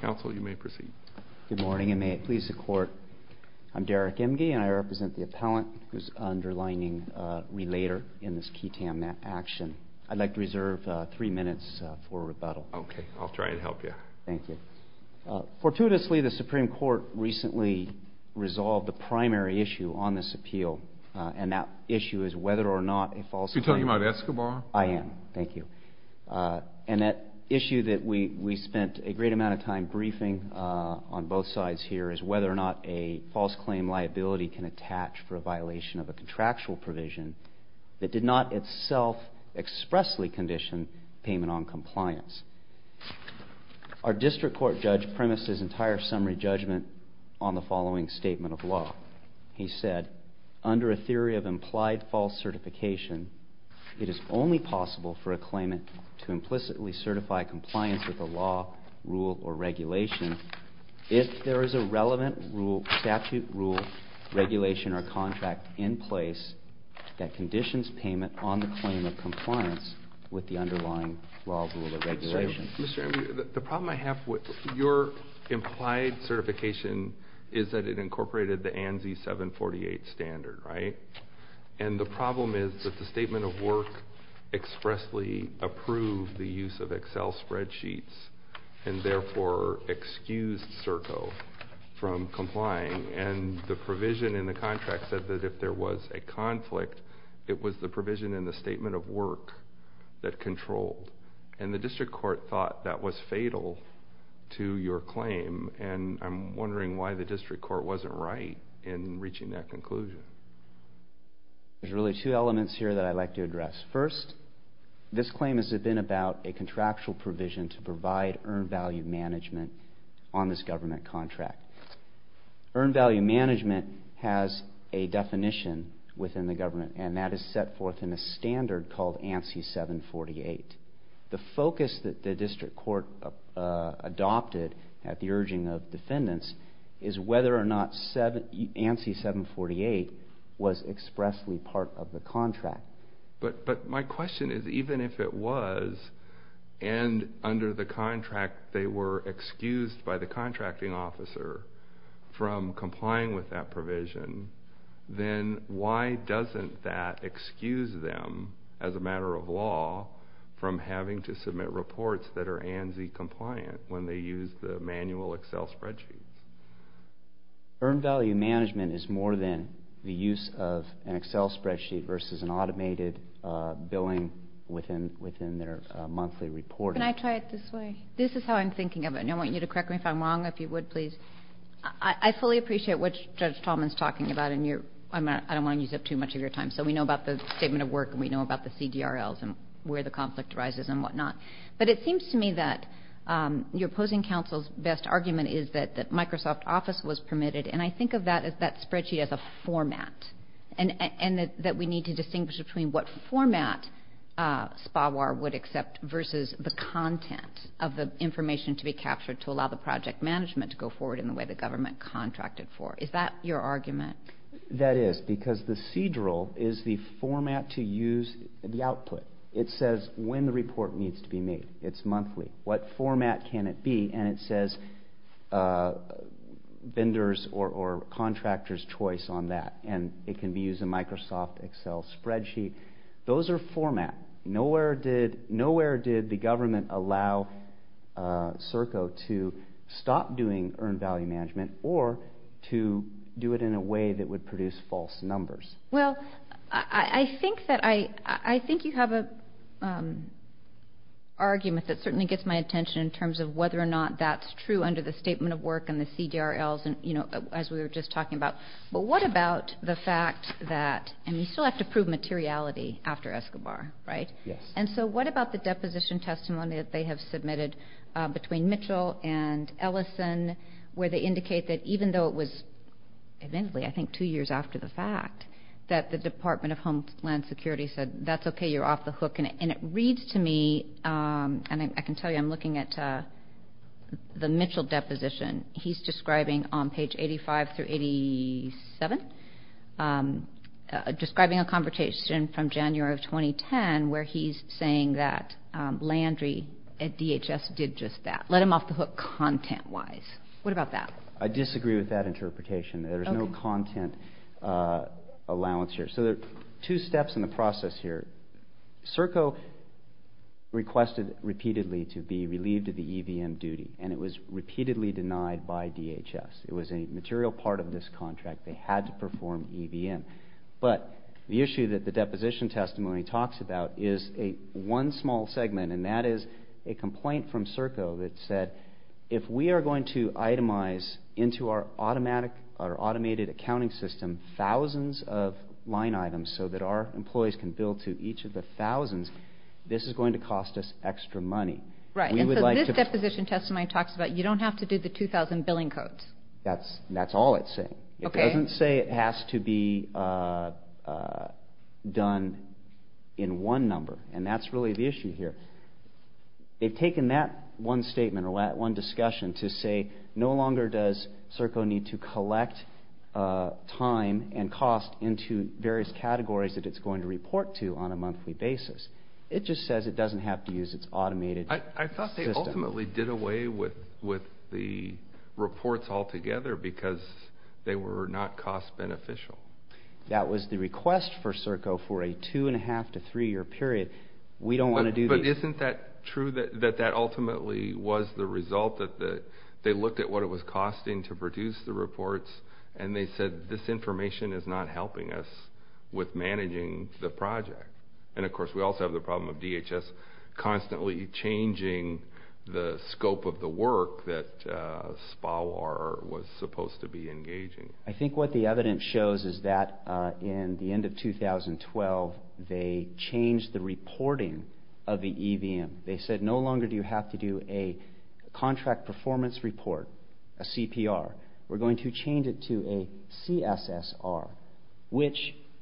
Good morning, and may it please the Court, I'm Derek Imge, and I represent the appellant who is the underlying relator in this ketamine action. I'd like to reserve three minutes for rebuttal. Okay, I'll try and help you. Thank you. Fortuitously, the Supreme Court recently resolved the primary issue on this appeal, and that issue is whether or not a And that issue that we spent a great amount of time briefing on both sides here is whether or not a false claim liability can attach for a violation of a contractual provision that did not itself expressly condition payment on compliance. Our district court judge premised his entire summary judgment on the following statement of law. He said, under a theory of implied false certification, it is only possible for a claimant to implicitly certify compliance with the law, rule, or regulation if there is a relevant rule, statute, rule, regulation, or contract in place that conditions payment on the claim of compliance with the underlying law, rule, or regulation. Mr. Imge, the problem I have with your implied certification is that it incorporated the ANSI 748 standard, right? And the problem is that the statement of work expressly approved the use of Excel spreadsheets, and therefore excused CERCO from complying. And the provision in the contract said that if there was a conflict, it was the provision in the statement of work that controlled. And the district court thought that was fatal to your claim, and I'm wondering why the district court wasn't right in reaching that conclusion. There's really two elements here that I'd like to address. First, this claim has been about a contractual provision to provide earned value management on this government contract. Earned value management has a definition within the government, and the focus that the district court adopted at the urging of defendants is whether or not ANSI 748 was expressly part of the contract. But my question is, even if it was, and under the contract they were excused by the contracting officer from complying with that provision, then why doesn't that excuse them, as a matter of law, from having to submit reports that are ANSI compliant when they use the manual Excel spreadsheet? Earned value management is more than the use of an Excel spreadsheet versus an automated billing within their monthly report. Can I try it this way? This is how I'm thinking of it, and I want you to correct me if I'm wrong, if you would, please. I fully appreciate what Judge Tallman's talking about, and I don't want to use up too much of your time, so we know about the Statement of Work and we know about the CDRLs and where the conflict arises and whatnot. But it seems to me that your opposing counsel's best argument is that Microsoft Office was permitted, and I think of that spreadsheet as a format, and that we need to distinguish between what format SPWR would accept versus the content of the information to be captured to allow the project management to go forward in the way the government contracted for. Is that your argument? That is, because the CDRL is the format to use the output. It says when the report needs to be made. It's monthly. What format can it be? And it says vendors or contractors' choice on that, and it can be used in Microsoft Excel spreadsheet. Those are format. Nowhere did the government allow CERCO to stop doing earned value management or to do it in a way that would produce false numbers. Well, I think you have an argument that certainly gets my attention in terms of whether or not that's true under the Statement of Work and the CDRLs as we were just talking about. But what about the fact that, and you still have to prove materiality after Escobar, right? Yes. And so what about the deposition testimony that they have submitted between Mitchell and Ellison where they indicate that even though it was, I think, two years after the fact that the Department of Homeland Security said that's okay, you're off the hook. And it reads to me, and I can tell you I'm looking at the Mitchell deposition, he's describing on page 85 through 87, describing a conversation from January of 2010 where he's saying that Landry at DHS did just that, let him off the hook content-wise. What about that? I disagree with that interpretation. There's no content allowance here. So there are two steps in the process here. CERCO requested repeatedly to be relieved of the EVM duty, and it was repeatedly denied by DHS. It was a material part of this contract. They had to perform EVM. But the issue that the deposition testimony talks about is one small segment, and that is a complaint from CERCO that said if we are going to itemize into our automated accounting system thousands of line items so that our we would like to... Right, and so this deposition testimony talks about you don't have to do the 2,000 billing codes. That's all it's saying. Okay. It doesn't say it has to be done in one number, and that's really the issue here. They've taken that one statement or that one discussion to say no longer does CERCO need to collect time and cost into various categories that it's going to report to on a monthly basis. It just says it doesn't have to use its automated system. I thought they ultimately did away with the reports altogether because they were not cost beneficial. That was the request for CERCO for a two-and-a-half to three-year period. We don't want to do these... But isn't that true that that ultimately was the result that they looked at what it was costing to produce the reports, and they said this information is not helping us with managing the project? And of course, we also have the constantly changing the scope of the work that SPOWR was supposed to be engaging. I think what the evidence shows is that in the end of 2012, they changed the reporting of the EVM. They said no longer do you have to do a contract performance report, a CPR. We're going to change it to a CSSR, which...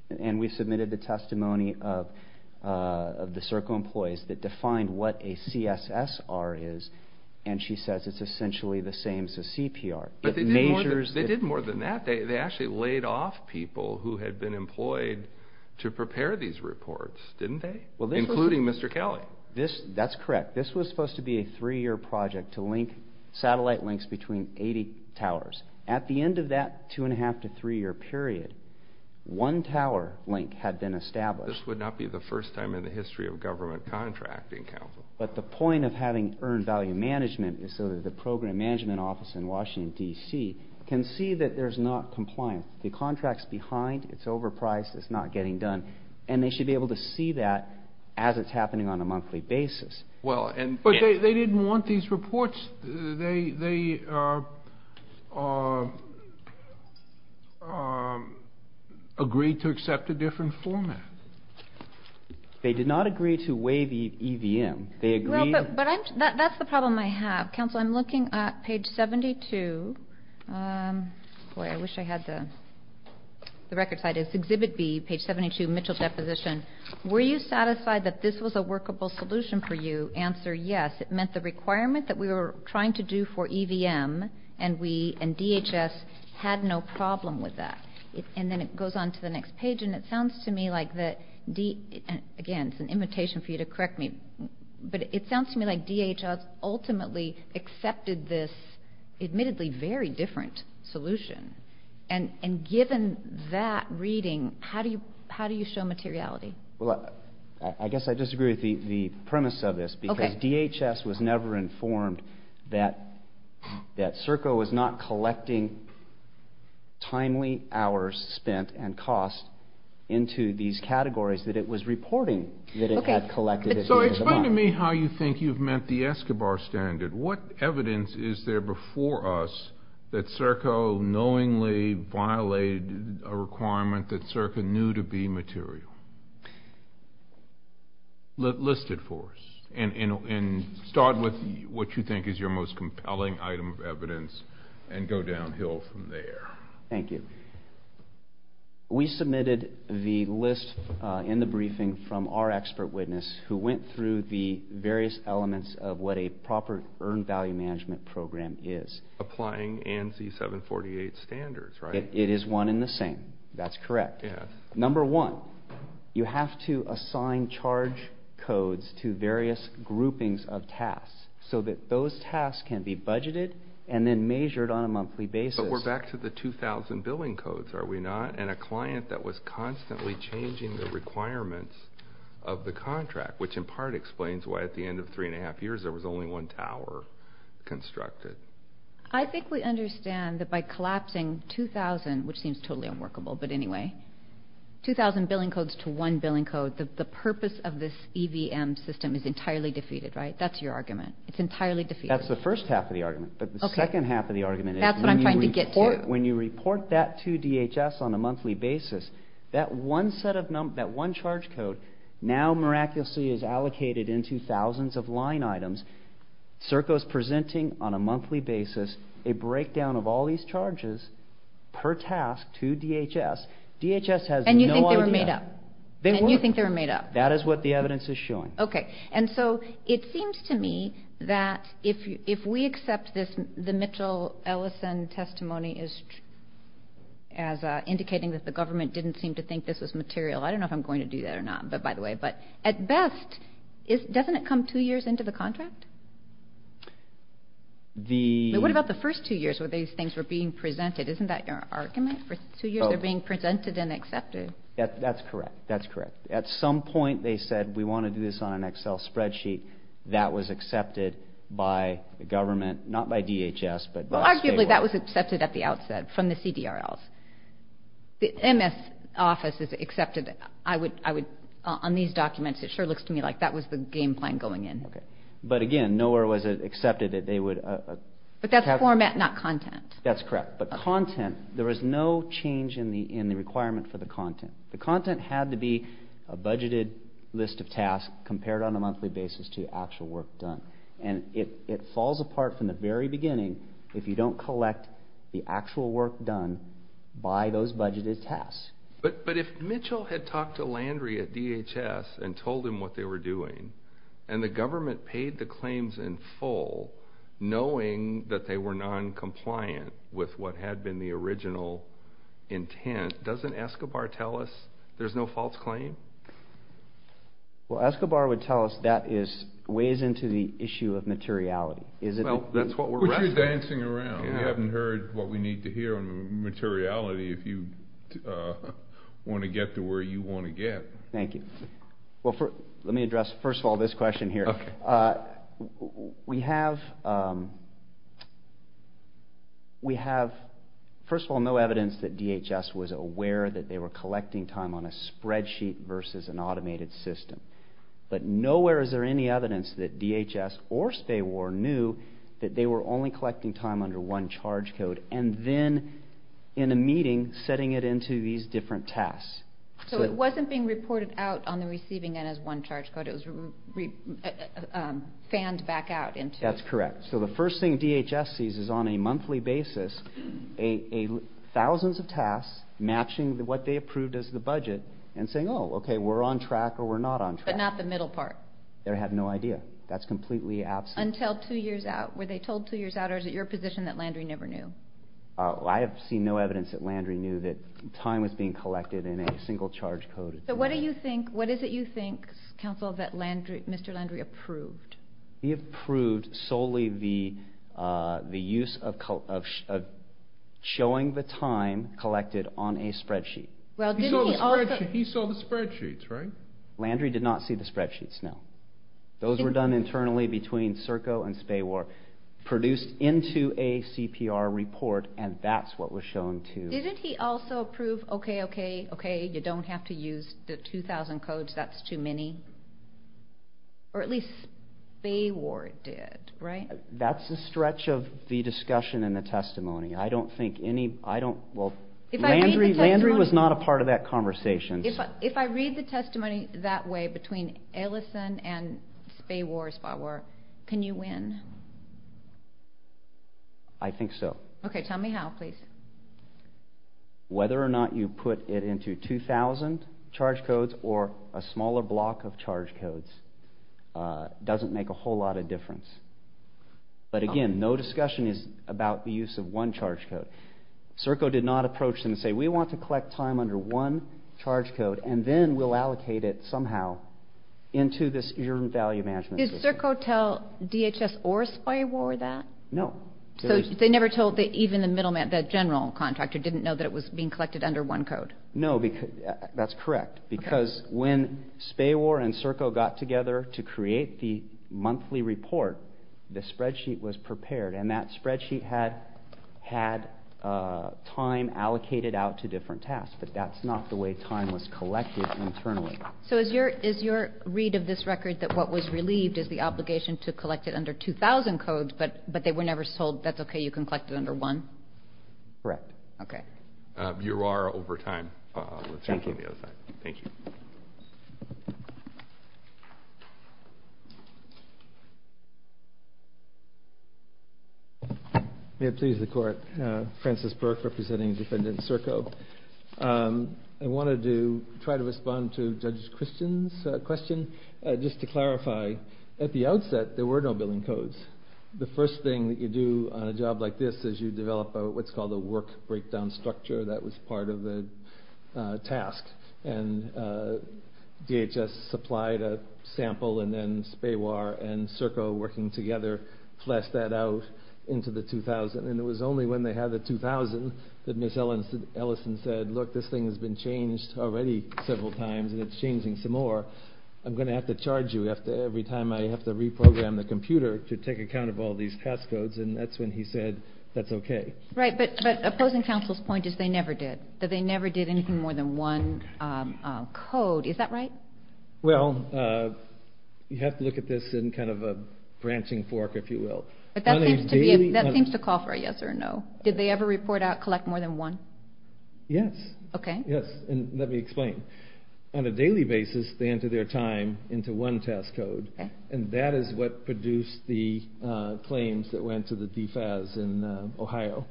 And we submitted the testimony of the CERCO employees that defined what a CSSR is, and she says it's essentially the same as a CPR. But they did more than that. They actually laid off people who had been employed to prepare these reports, didn't they? Including Mr. Kelly. That's correct. This was supposed to be a three-year project to link satellite links between 80 towers. At the end of that two-and-a-half to three-year period, one tower link had been established. This would not be the first time in the history of government contracting, Calvin. But the point of having earned value management is so that the program management office in Washington, D.C. can see that there's not compliance. The contract's behind, it's overpriced, it's not getting done, and they should be able to see that as it's happening on a monthly basis. Well, and... But they didn't want these reports. They agreed to accept a different format. They did not agree to waive EVM. They agreed... Well, but I'm... That's the problem I have. Counsel, I'm looking at page 72. Boy, I wish I had the record side. It's Exhibit B, page 72, Mitchell Deposition. Were you satisfied that this was a workable solution for you? Answer, yes. It meant the requirement that we were trying to do for EVM and DHS had no problem with that. And then it goes on to the next page, and it sounds to me like that D... Again, it's an imitation for you to correct me, but it sounds to me like DHS ultimately accepted this admittedly very different solution. And given that reading, how do you show materiality? Well, I guess I disagree with the premise of this because DHS was never informed that CERCO was not collecting timely hours spent and cost into these categories that it was reporting that it had collected at the end of the month. So explain to me how you think you've met the Escobar Standard. What evidence is there before us that CERCO knowingly violated a requirement that CERCO knew to be material? List it for us and start with what you think is your most compelling item of evidence and go downhill from there. Thank you. We submitted the list in the briefing from our expert witness who went through the various elements of what a proper earned value management program is. Applying ANSI 748 standards, right? It is one and the same. That's correct. Number one, you have to assign charge codes to various groupings of tasks so that those tasks can be budgeted and then measured on a monthly basis. But we're back to the 2000 billing codes, are we not? And a client that was constantly changing the requirements of the contract, which in part explains why at the end of three and a half years there was only one tower constructed. I think we understand that by collapsing 2000, which seems totally unworkable, but anyway, 2000 billing codes to one billing code, the purpose of this EVM system is entirely defeated, right? That's your argument. It's entirely defeated. That's the first half of the argument. But the second half of the argument is when you report that to DHS on a monthly basis, that one set of numbers, that one charge code now miraculously is allocated into thousands of line items, CERCO's presenting on a monthly basis a breakdown of all these charges per task to DHS. DHS has no idea. And you think they were made up? They were. And you think they were made up? That is what the evidence is showing. Okay. And so it seems to me that if we accept this, the Mitchell-Ellison testimony is indicating that the government didn't seem to think this was material. I don't know if I'm going to do that or not, by the way, but at best, doesn't it come two years into the contract? The... But what about the first two years where these things were being presented? Isn't that your argument? For two years they're being presented and accepted? That's correct. That's correct. At some point they said, we want to do this on an Excel spreadsheet. That was accepted by the government, not by DHS, but by... Well, arguably that was accepted at the outset from the CDRLs. The MS office has accepted, I would, on these documents, it sure looks to me like that was the game plan going in. Okay. But again, nowhere was it accepted that they would... But that's format, not content. That's correct. But content, there was no change in the requirement for the content. The content had to be a budgeted list of tasks compared on a monthly basis to actual work done. And it falls apart from the very beginning if you don't collect the actual work done by those budgeted tasks. But if Mitchell had talked to Landry at DHS and told him what they were doing, and the government paid the claims in full, knowing that they were non-compliant with what had been the original intent, doesn't Escobar tell us there's no false claim? Well, Escobar would tell us that weighs into the issue of materiality. We're dancing around. We haven't heard what we need to hear on materiality if you want to get to where you want to get. Thank you. Well, let me address, first of all, this question here. We have, first of all, no evidence that DHS was aware that they were collecting time on a spreadsheet versus an automated system. But nowhere is there any evidence that DHS or SPAWAR knew that they were only collecting time under one charge code and then, in a meeting, setting it into these different tasks. So it wasn't being reported out on the receiving end as one charge code. It was fanned back out into... That's correct. So the first thing DHS sees is on a monthly basis, thousands of tasks matching what they approved as the budget and saying, oh, okay, we're on track or we're not on track. But not the middle part. They have no idea. That's completely absent. Until two years out. Were they told two years out? Or is it your position that Landry never knew? I have seen no evidence that Landry knew that time was being collected in a single charge code. So what do you think, what is it you think, counsel, that Mr. Landry approved? He approved solely the use of showing the time collected on a spreadsheet. Well, didn't he also... He saw the spreadsheets, right? Landry did not see the spreadsheets, no. Those were done internally between CERCO and SPAWAR, produced into a CPR report, and that's what was shown to... Didn't he also approve, okay, okay, okay, you don't have to use the 2,000 codes, that's too many? Or at least SPAWAR did, right? That's a stretch of the discussion and the testimony. I don't think any... Well, Landry was not a part of that conversation. If I read the testimony that way, between Ellison and SPAWAR, can you win? I think so. Okay, tell me how, please. Whether or not you put it into 2,000 charge codes or a smaller block of charge codes doesn't make a whole lot of difference. But again, no discussion is about the use of one charge code. CERCO did not approach them and say, we want to collect time under one charge code and then we'll allocate it somehow into this value management system. Did CERCO tell DHS or SPAWAR that? No. So they never told... Even the general contractor didn't know that it was being collected under one code? No, that's correct. Because when SPAWAR and CERCO got together to create the monthly report, the spreadsheet was prepared. And that spreadsheet had time allocated out to different tasks, but that's not the way time was collected internally. So is your read of this record that what was relieved is the obligation to collect it under 2,000 codes, but they were never told, that's okay, you can collect it under one? Correct. Okay. You are over time. Thank you. May it please the court. Francis Burke representing Defendant CERCO. I wanted to try to respond to Judge Christian's question. Just to clarify, at the outset, there were no billing codes. The first thing that you do on a job like this is you develop what's called a work breakdown structure that was part of the task. And DHS supplied a sample and then SPAWAR and CERCO working together fleshed that out into the 2,000. And it was only when they had the 2,000 that Ms. Ellison said, look, this thing has been changed already several times and it's changing some more. I'm going to have to charge you every time I have to reprogram the computer to take account of all these task codes. And that's when he said, that's okay. Right. But opposing counsel's point is they never did. That they never did anything more than one code. Is that right? Well, you have to look at this in kind of a branching fork, if you will. But that seems to call for a yes or a no. Did they ever report out, collect more than one? Yes. Okay. Yes. And let me explain. On a daily basis, they enter their time into one task code. And that is what produced the claims that went to the DFAS in Ohio.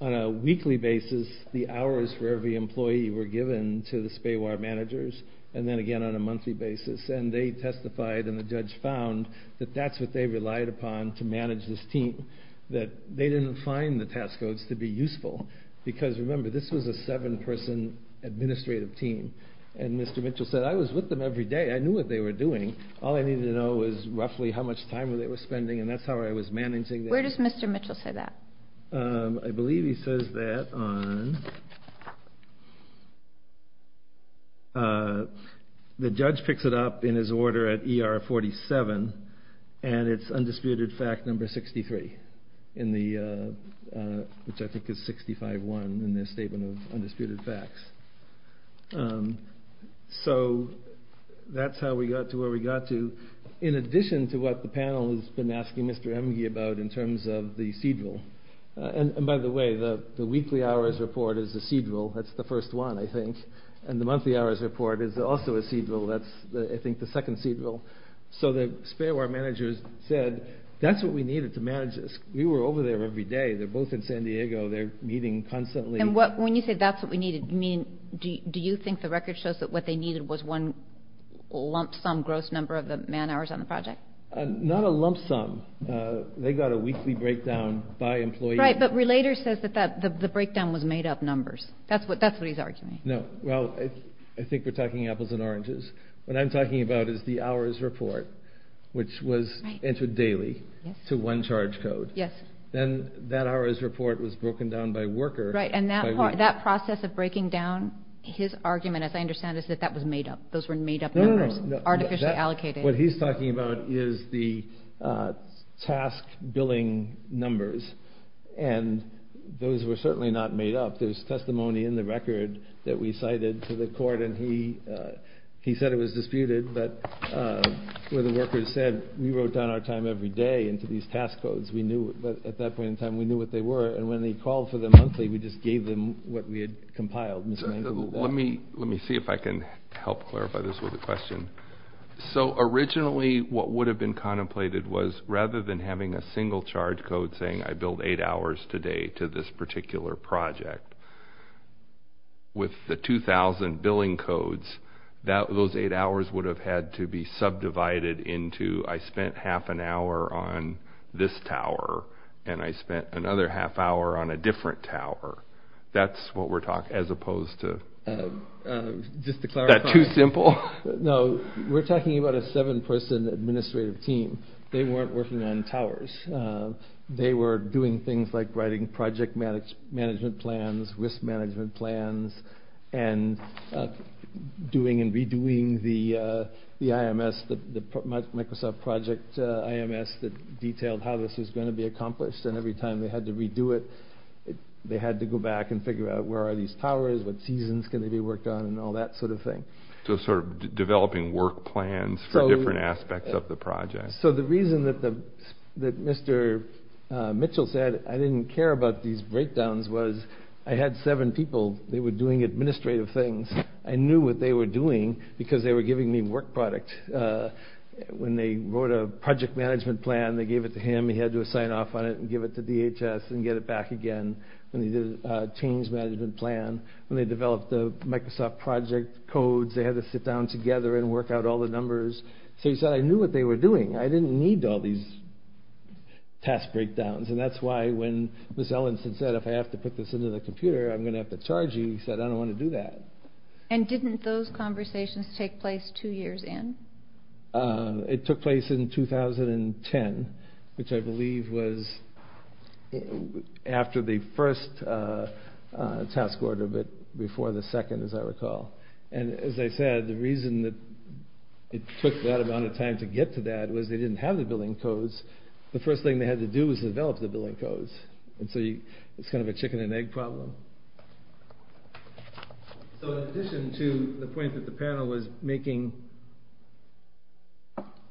On a weekly basis, the hours for every employee were given to the SPAWAR managers. And then again, on a monthly basis. And they testified and the judge found that that's what they relied upon to manage this team. That they didn't find the task codes to be useful. Because remember, this was a seven person administrative team. And Mr. Mitchell said, I was with them every day. I knew what they were doing. All I needed to know was roughly how much time they were spending. And that's how I was managing them. Where does Mr. Mitchell say that? I believe he says that on... The judge picks it up in his order at ER 47. And it's undisputed fact number 63. Which I think is 65-1 in their statement of undisputed facts. So, that's how we got to where we got to. In addition to what the panel has been asking Mr. Emge about in terms of the CEDREL. And by the way, the weekly hours report is a CEDREL. That's the first one, I think. And the monthly hours report is also a CEDREL. That's, I think, the second CEDREL. So the SPAWAR managers said, that's what we needed to manage this. We were over there every day. They're both in San Diego. They're meeting constantly. When you say that's what we needed, do you think the record shows that what they needed was one lump sum gross number of the man hours on the project? Not a lump sum. They got a weekly breakdown by employee. Right, but Relator says that the breakdown was made up numbers. That's what he's arguing. No. Well, I think we're talking apples and oranges. What I'm talking about is the hours report, which was entered daily to one charge code. Then that hours report was broken down by worker. Right, and that process of breaking down his argument, as I understand it, is that that was made up. Those were made up numbers. Artificially allocated. What he's talking about is the task billing numbers. And those were certainly not made up. There's testimony in the record that we cited to the court. And he said it was disputed, but where the workers said, we wrote down our time every day into these task codes. Because we knew, at that point in time, we knew what they were. And when they called for them monthly, we just gave them what we had compiled. Let me see if I can help clarify this with a question. So originally, what would have been contemplated was, rather than having a single charge code saying, I billed eight hours today to this particular project, with the 2,000 billing codes, those eight hours would have had to be subdivided into, I spent half an hour on this tower, and I spent another half hour on a different tower. That's what we're talking about, as opposed to... Just to clarify... Is that too simple? No. We're talking about a seven-person administrative team. They weren't working on towers. They were doing things like writing project management plans, risk management plans, and doing and the IMS, the Microsoft project IMS that detailed how this was going to be accomplished. And every time they had to redo it, they had to go back and figure out where are these towers, what seasons can they be worked on, and all that sort of thing. So sort of developing work plans for different aspects of the project. So the reason that Mr. Mitchell said, I didn't care about these breakdowns, was I had seven people. They were doing administrative things. I knew what they were doing, because they were giving me work product. When they wrote a project management plan, they gave it to him. He had to sign off on it and give it to DHS and get it back again. When they did a change management plan, when they developed the Microsoft project codes, they had to sit down together and work out all the numbers. So he said, I knew what they were doing. I didn't need all these task breakdowns. And that's why when Ms. Ellenson said, if I have to put this into the computer, I'm going to have to charge you, he said, I don't want to do that. And didn't those conversations take place two years in? It took place in 2010, which I believe was after the first task order, but before the second, as I recall. And as I said, the reason that it took that amount of time to get to that was they didn't have the billing codes. The first thing they had to do was develop the billing codes. And so it's kind of a chicken and egg problem. So in addition to the point that the panel was making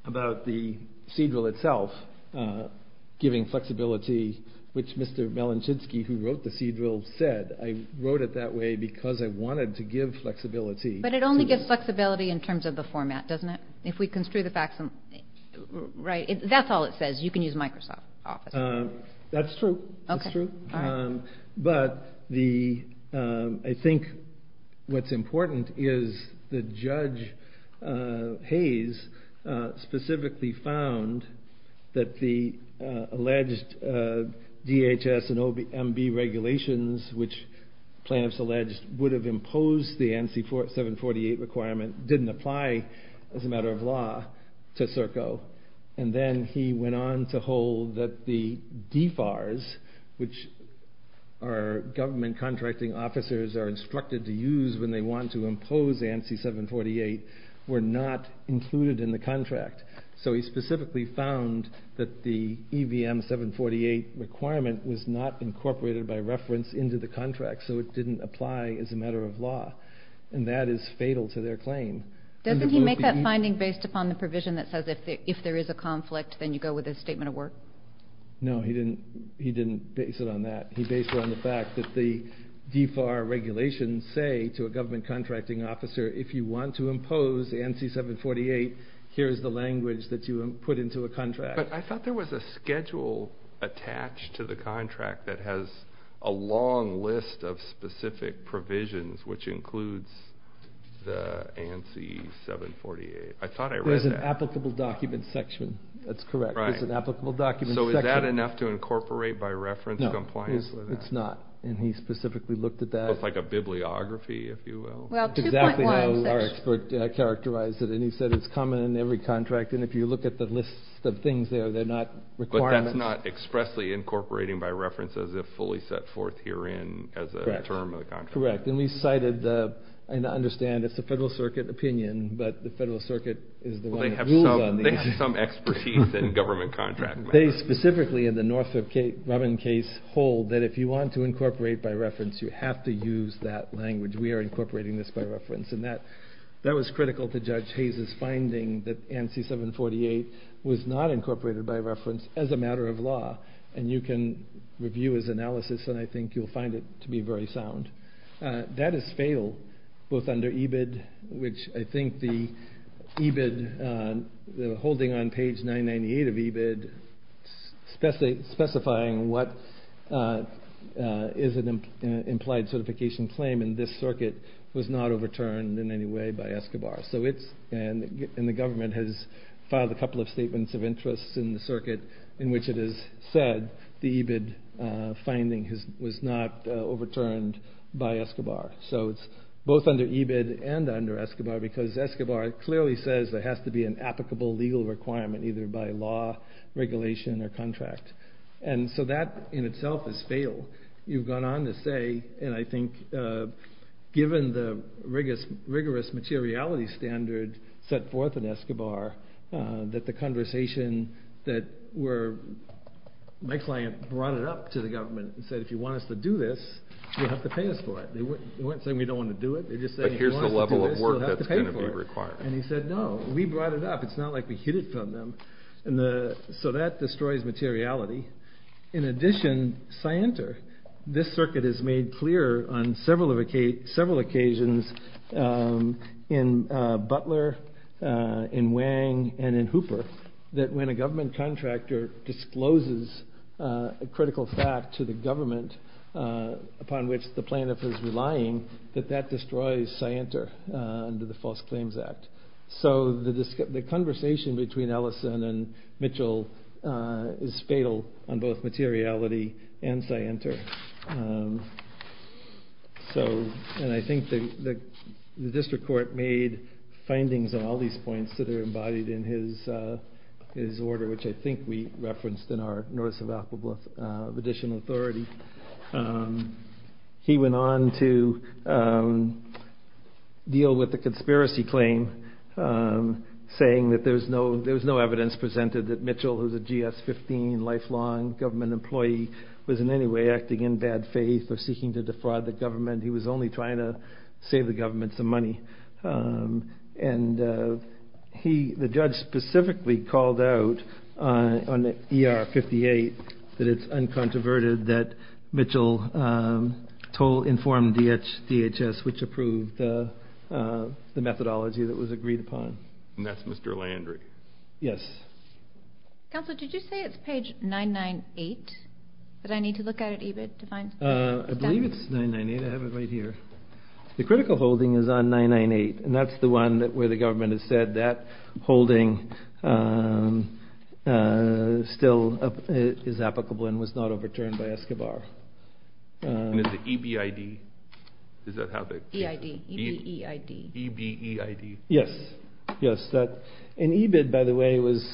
about the seed drill itself, giving flexibility, which Mr. Melanchinsky, who wrote the seed drill said, I wrote it that way because I wanted to give flexibility. But it only gives flexibility in terms of the format, doesn't it? If we construe the facts, right? That's all it says. You can use Microsoft Office. That's true. That's true. But I think what's important is that Judge Hayes specifically found that the alleged DHS and MB regulations, which plaintiffs alleged would have imposed the NC-748 requirement, didn't apply as a matter of law to CERCO. And then he went on to hold that the DFARS, which our government contracting officers are instructed to use when they want to impose NC-748, were not included in the contract. So he specifically found that the EVM-748 requirement was not incorporated by reference into the contract. So it didn't apply as a matter of law. And that is fatal to their claim. Doesn't he make that finding based upon the provision that says if there is a conflict, then you go with a statement of work? No, he didn't base it on that. He based it on the fact that the DFAR regulations say to a government contracting officer, if you want to impose NC-748, here is the language that you put into a contract. But I thought there was a schedule attached to the contract that has a long list of specific provisions, which includes the NC-748. I thought I read that. It's an applicable document section. That's correct. It's an applicable document section. So is that enough to incorporate by reference, compliance with that? No, it's not. And he specifically looked at that. It's like a bibliography, if you will. Well, 2.1 section. Exactly how our expert characterized it. And he said it's common in every contract. And if you look at the list of things there, they're not requirements. But that's not expressly incorporating by reference as if fully set forth herein as a term of the contract. Correct. And we cited, and I understand it's the Federal Circuit opinion, but the Federal Circuit is the one that... They have some expertise in government contract matters. They specifically, in the Northrop Grumman case, hold that if you want to incorporate by reference, you have to use that language. We are incorporating this by reference. And that was critical to Judge Hayes' finding that NC-748 was not incorporated by reference as a matter of law. And you can review his analysis, and I think you'll find it to be very sound. That is fatal, both under EBID, which I think the EBID, holding on page 998 of EBID, specifying what is an implied certification claim in this circuit was not overturned in any way by Escobar. So it's, and the government has filed a couple of statements of interest in the circuit in which it is said the EBID finding was not overturned by Escobar. So it's both under EBID and under Escobar, because Escobar clearly says there has to be an applicable legal requirement either by law, regulation, or contract. And so that in itself is fatal. You've gone on to say, and I think given the rigorous materiality standard set forth in Escobar, that the conversation that we're, my client brought it up to the government and said, if you want us to do this, you'll have to pay us for it. They weren't saying we don't want to do it, they're just saying if you want us to do this, you'll have to pay for it. And he said, no, we brought it up, it's not like we hid it from them. And so that destroys materiality. In addition, Scienter, this circuit is made clear on several occasions in Butler, in Wang, and in Hooper, that when a government contractor discloses a critical fact to the government upon which the plaintiff is relying, that that destroys Scienter under the False Claims Act. So the conversation between Ellison and Mitchell is fatal on both materiality and Scienter. So, and I think the district court made findings on all these points that are embodied in his order, which I think we referenced in our notice of additional authority. He went on to deal with the conspiracy claim, saying that there was no evidence presented that Mitchell, who's a GS-15 lifelong government employee, was in any way acting in bad faith or seeking to defraud the government. He was only trying to save the government some money. And he, the judge, specifically called out on the ER-58 that it's uncontroverted that Mitchell told, informed DHS, which approved the methodology that was agreed upon. And that's Mr. Landry. Yes. Counselor, did you say it's page 998 that I need to look at at EBID to find? I believe it's 998. I have it right here. The critical holding is on 998, and that's the one where the government has said that holding still is applicable and was not overturned by Escobar. And is it EBID? EBID. Yes. Yes. And EBID, by the way, was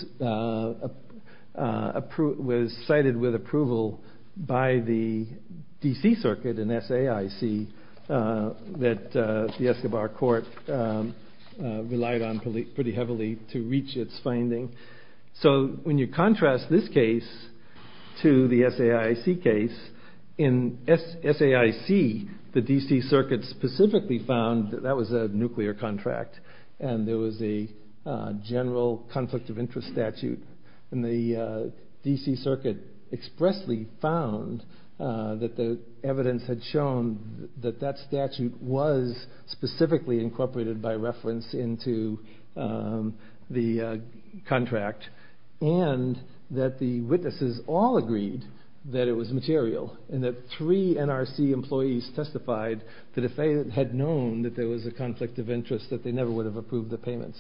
cited with approval by the DC Circuit and SAIC that the Escobar court relied on pretty heavily to reach its finding. So when you contrast this case to the SAIC case, in SAIC, the DC Circuit specifically found that that was a nuclear contract, and there was a general conflict of interest statute. And the DC Circuit expressly found that the evidence had shown that that statute was specifically incorporated by reference into the contract, and that the witnesses all agreed that it was material, and that three NRC employees testified that if they had known that there was a conflict of interest, that they never would have approved the payments.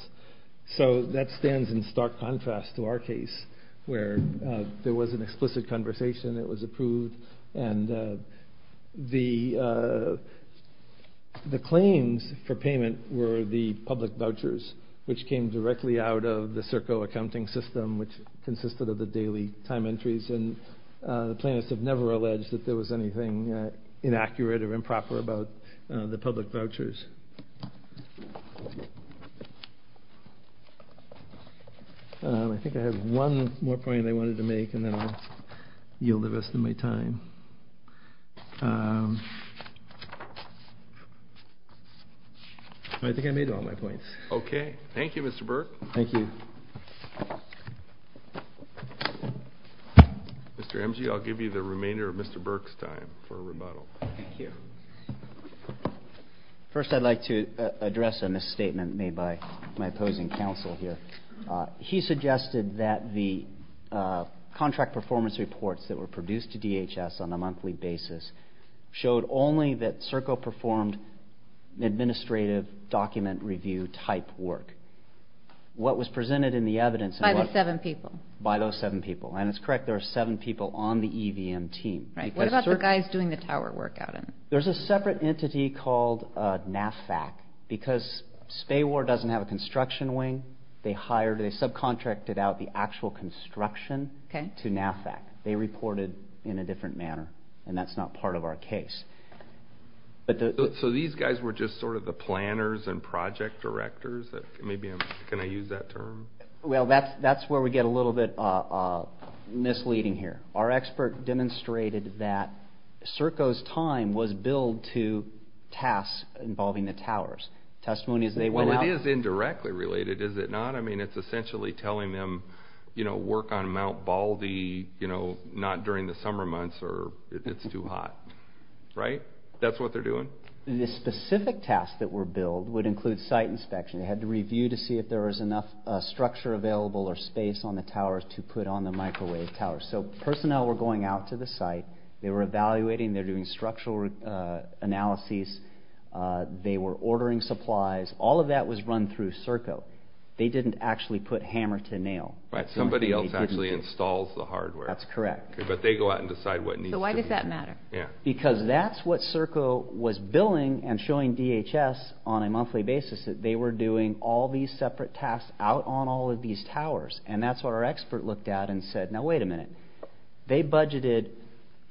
So that stands in stark contrast to our case, where there was an explicit conversation, it was were the public vouchers, which came directly out of the Serco accounting system, which consisted of the daily time entries, and the plaintiffs have never alleged that there was anything inaccurate or improper about the public vouchers. I think I have one more point that I wanted to make, and then I'll yield the rest of my time. I think I made all my points. Okay. Thank you, Mr. Burke. Thank you. Mr. Emge, I'll give you the remainder of Mr. Burke's time for a rebuttal. Thank you. First, I'd like to address a misstatement made by my opposing counsel here. He suggested that the contract performance reports that were produced to DHS on a monthly basis showed only that Serco performed administrative document review type work. What was presented in the evidence... By the seven people. By those seven people. And it's correct, there are seven people on the EVM team. Right. What about the guys doing the tower work out of it? There's a separate entity called NAFAC, because SPAWAR doesn't have a construction wing. They subcontracted out the actual construction to NAFAC. They reported in a different manner, and that's not part of our case. So these guys were just sort of the planners and project directors? Can I use that term? Well, that's where we get a little bit misleading here. Our expert demonstrated that Serco's time was billed to tasks involving the towers. Well, it is indirectly related, is it not? I mean, it's essentially telling them, you know, work on Mount Baldy, you know, not during the summer months, or it's too hot. Right? That's what they're doing? The specific tasks that were billed would include site inspection. They had to review to see if there was enough structure available or space on the towers to put on the microwave towers. So personnel were going out to the site. They were evaluating. They were doing structural analyses. They were ordering supplies. All of that was run through Serco. They didn't actually put hammer to nail. Somebody else actually installs the hardware. That's correct. But they go out and decide what needs to be... So why does that matter? Because that's what Serco was billing and showing DHS on a monthly basis, that they were doing all these separate tasks out on all of these towers. And that's what our expert looked at and said, now, wait a minute. They budgeted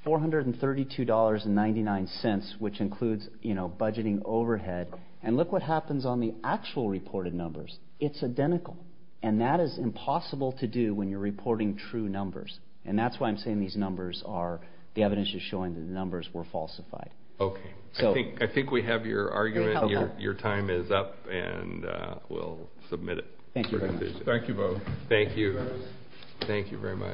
$432.99, which includes, you know, budgeting overhead. And look what happens on the actual reported numbers. It's identical. And that is impossible to do when you're reporting true numbers. And that's why I'm saying these numbers are... The evidence is showing that the numbers were falsified. Okay. I think we have your argument. Your time is up and we'll submit it. Thank you very much. Thank you both. Thank you. Thank you very much.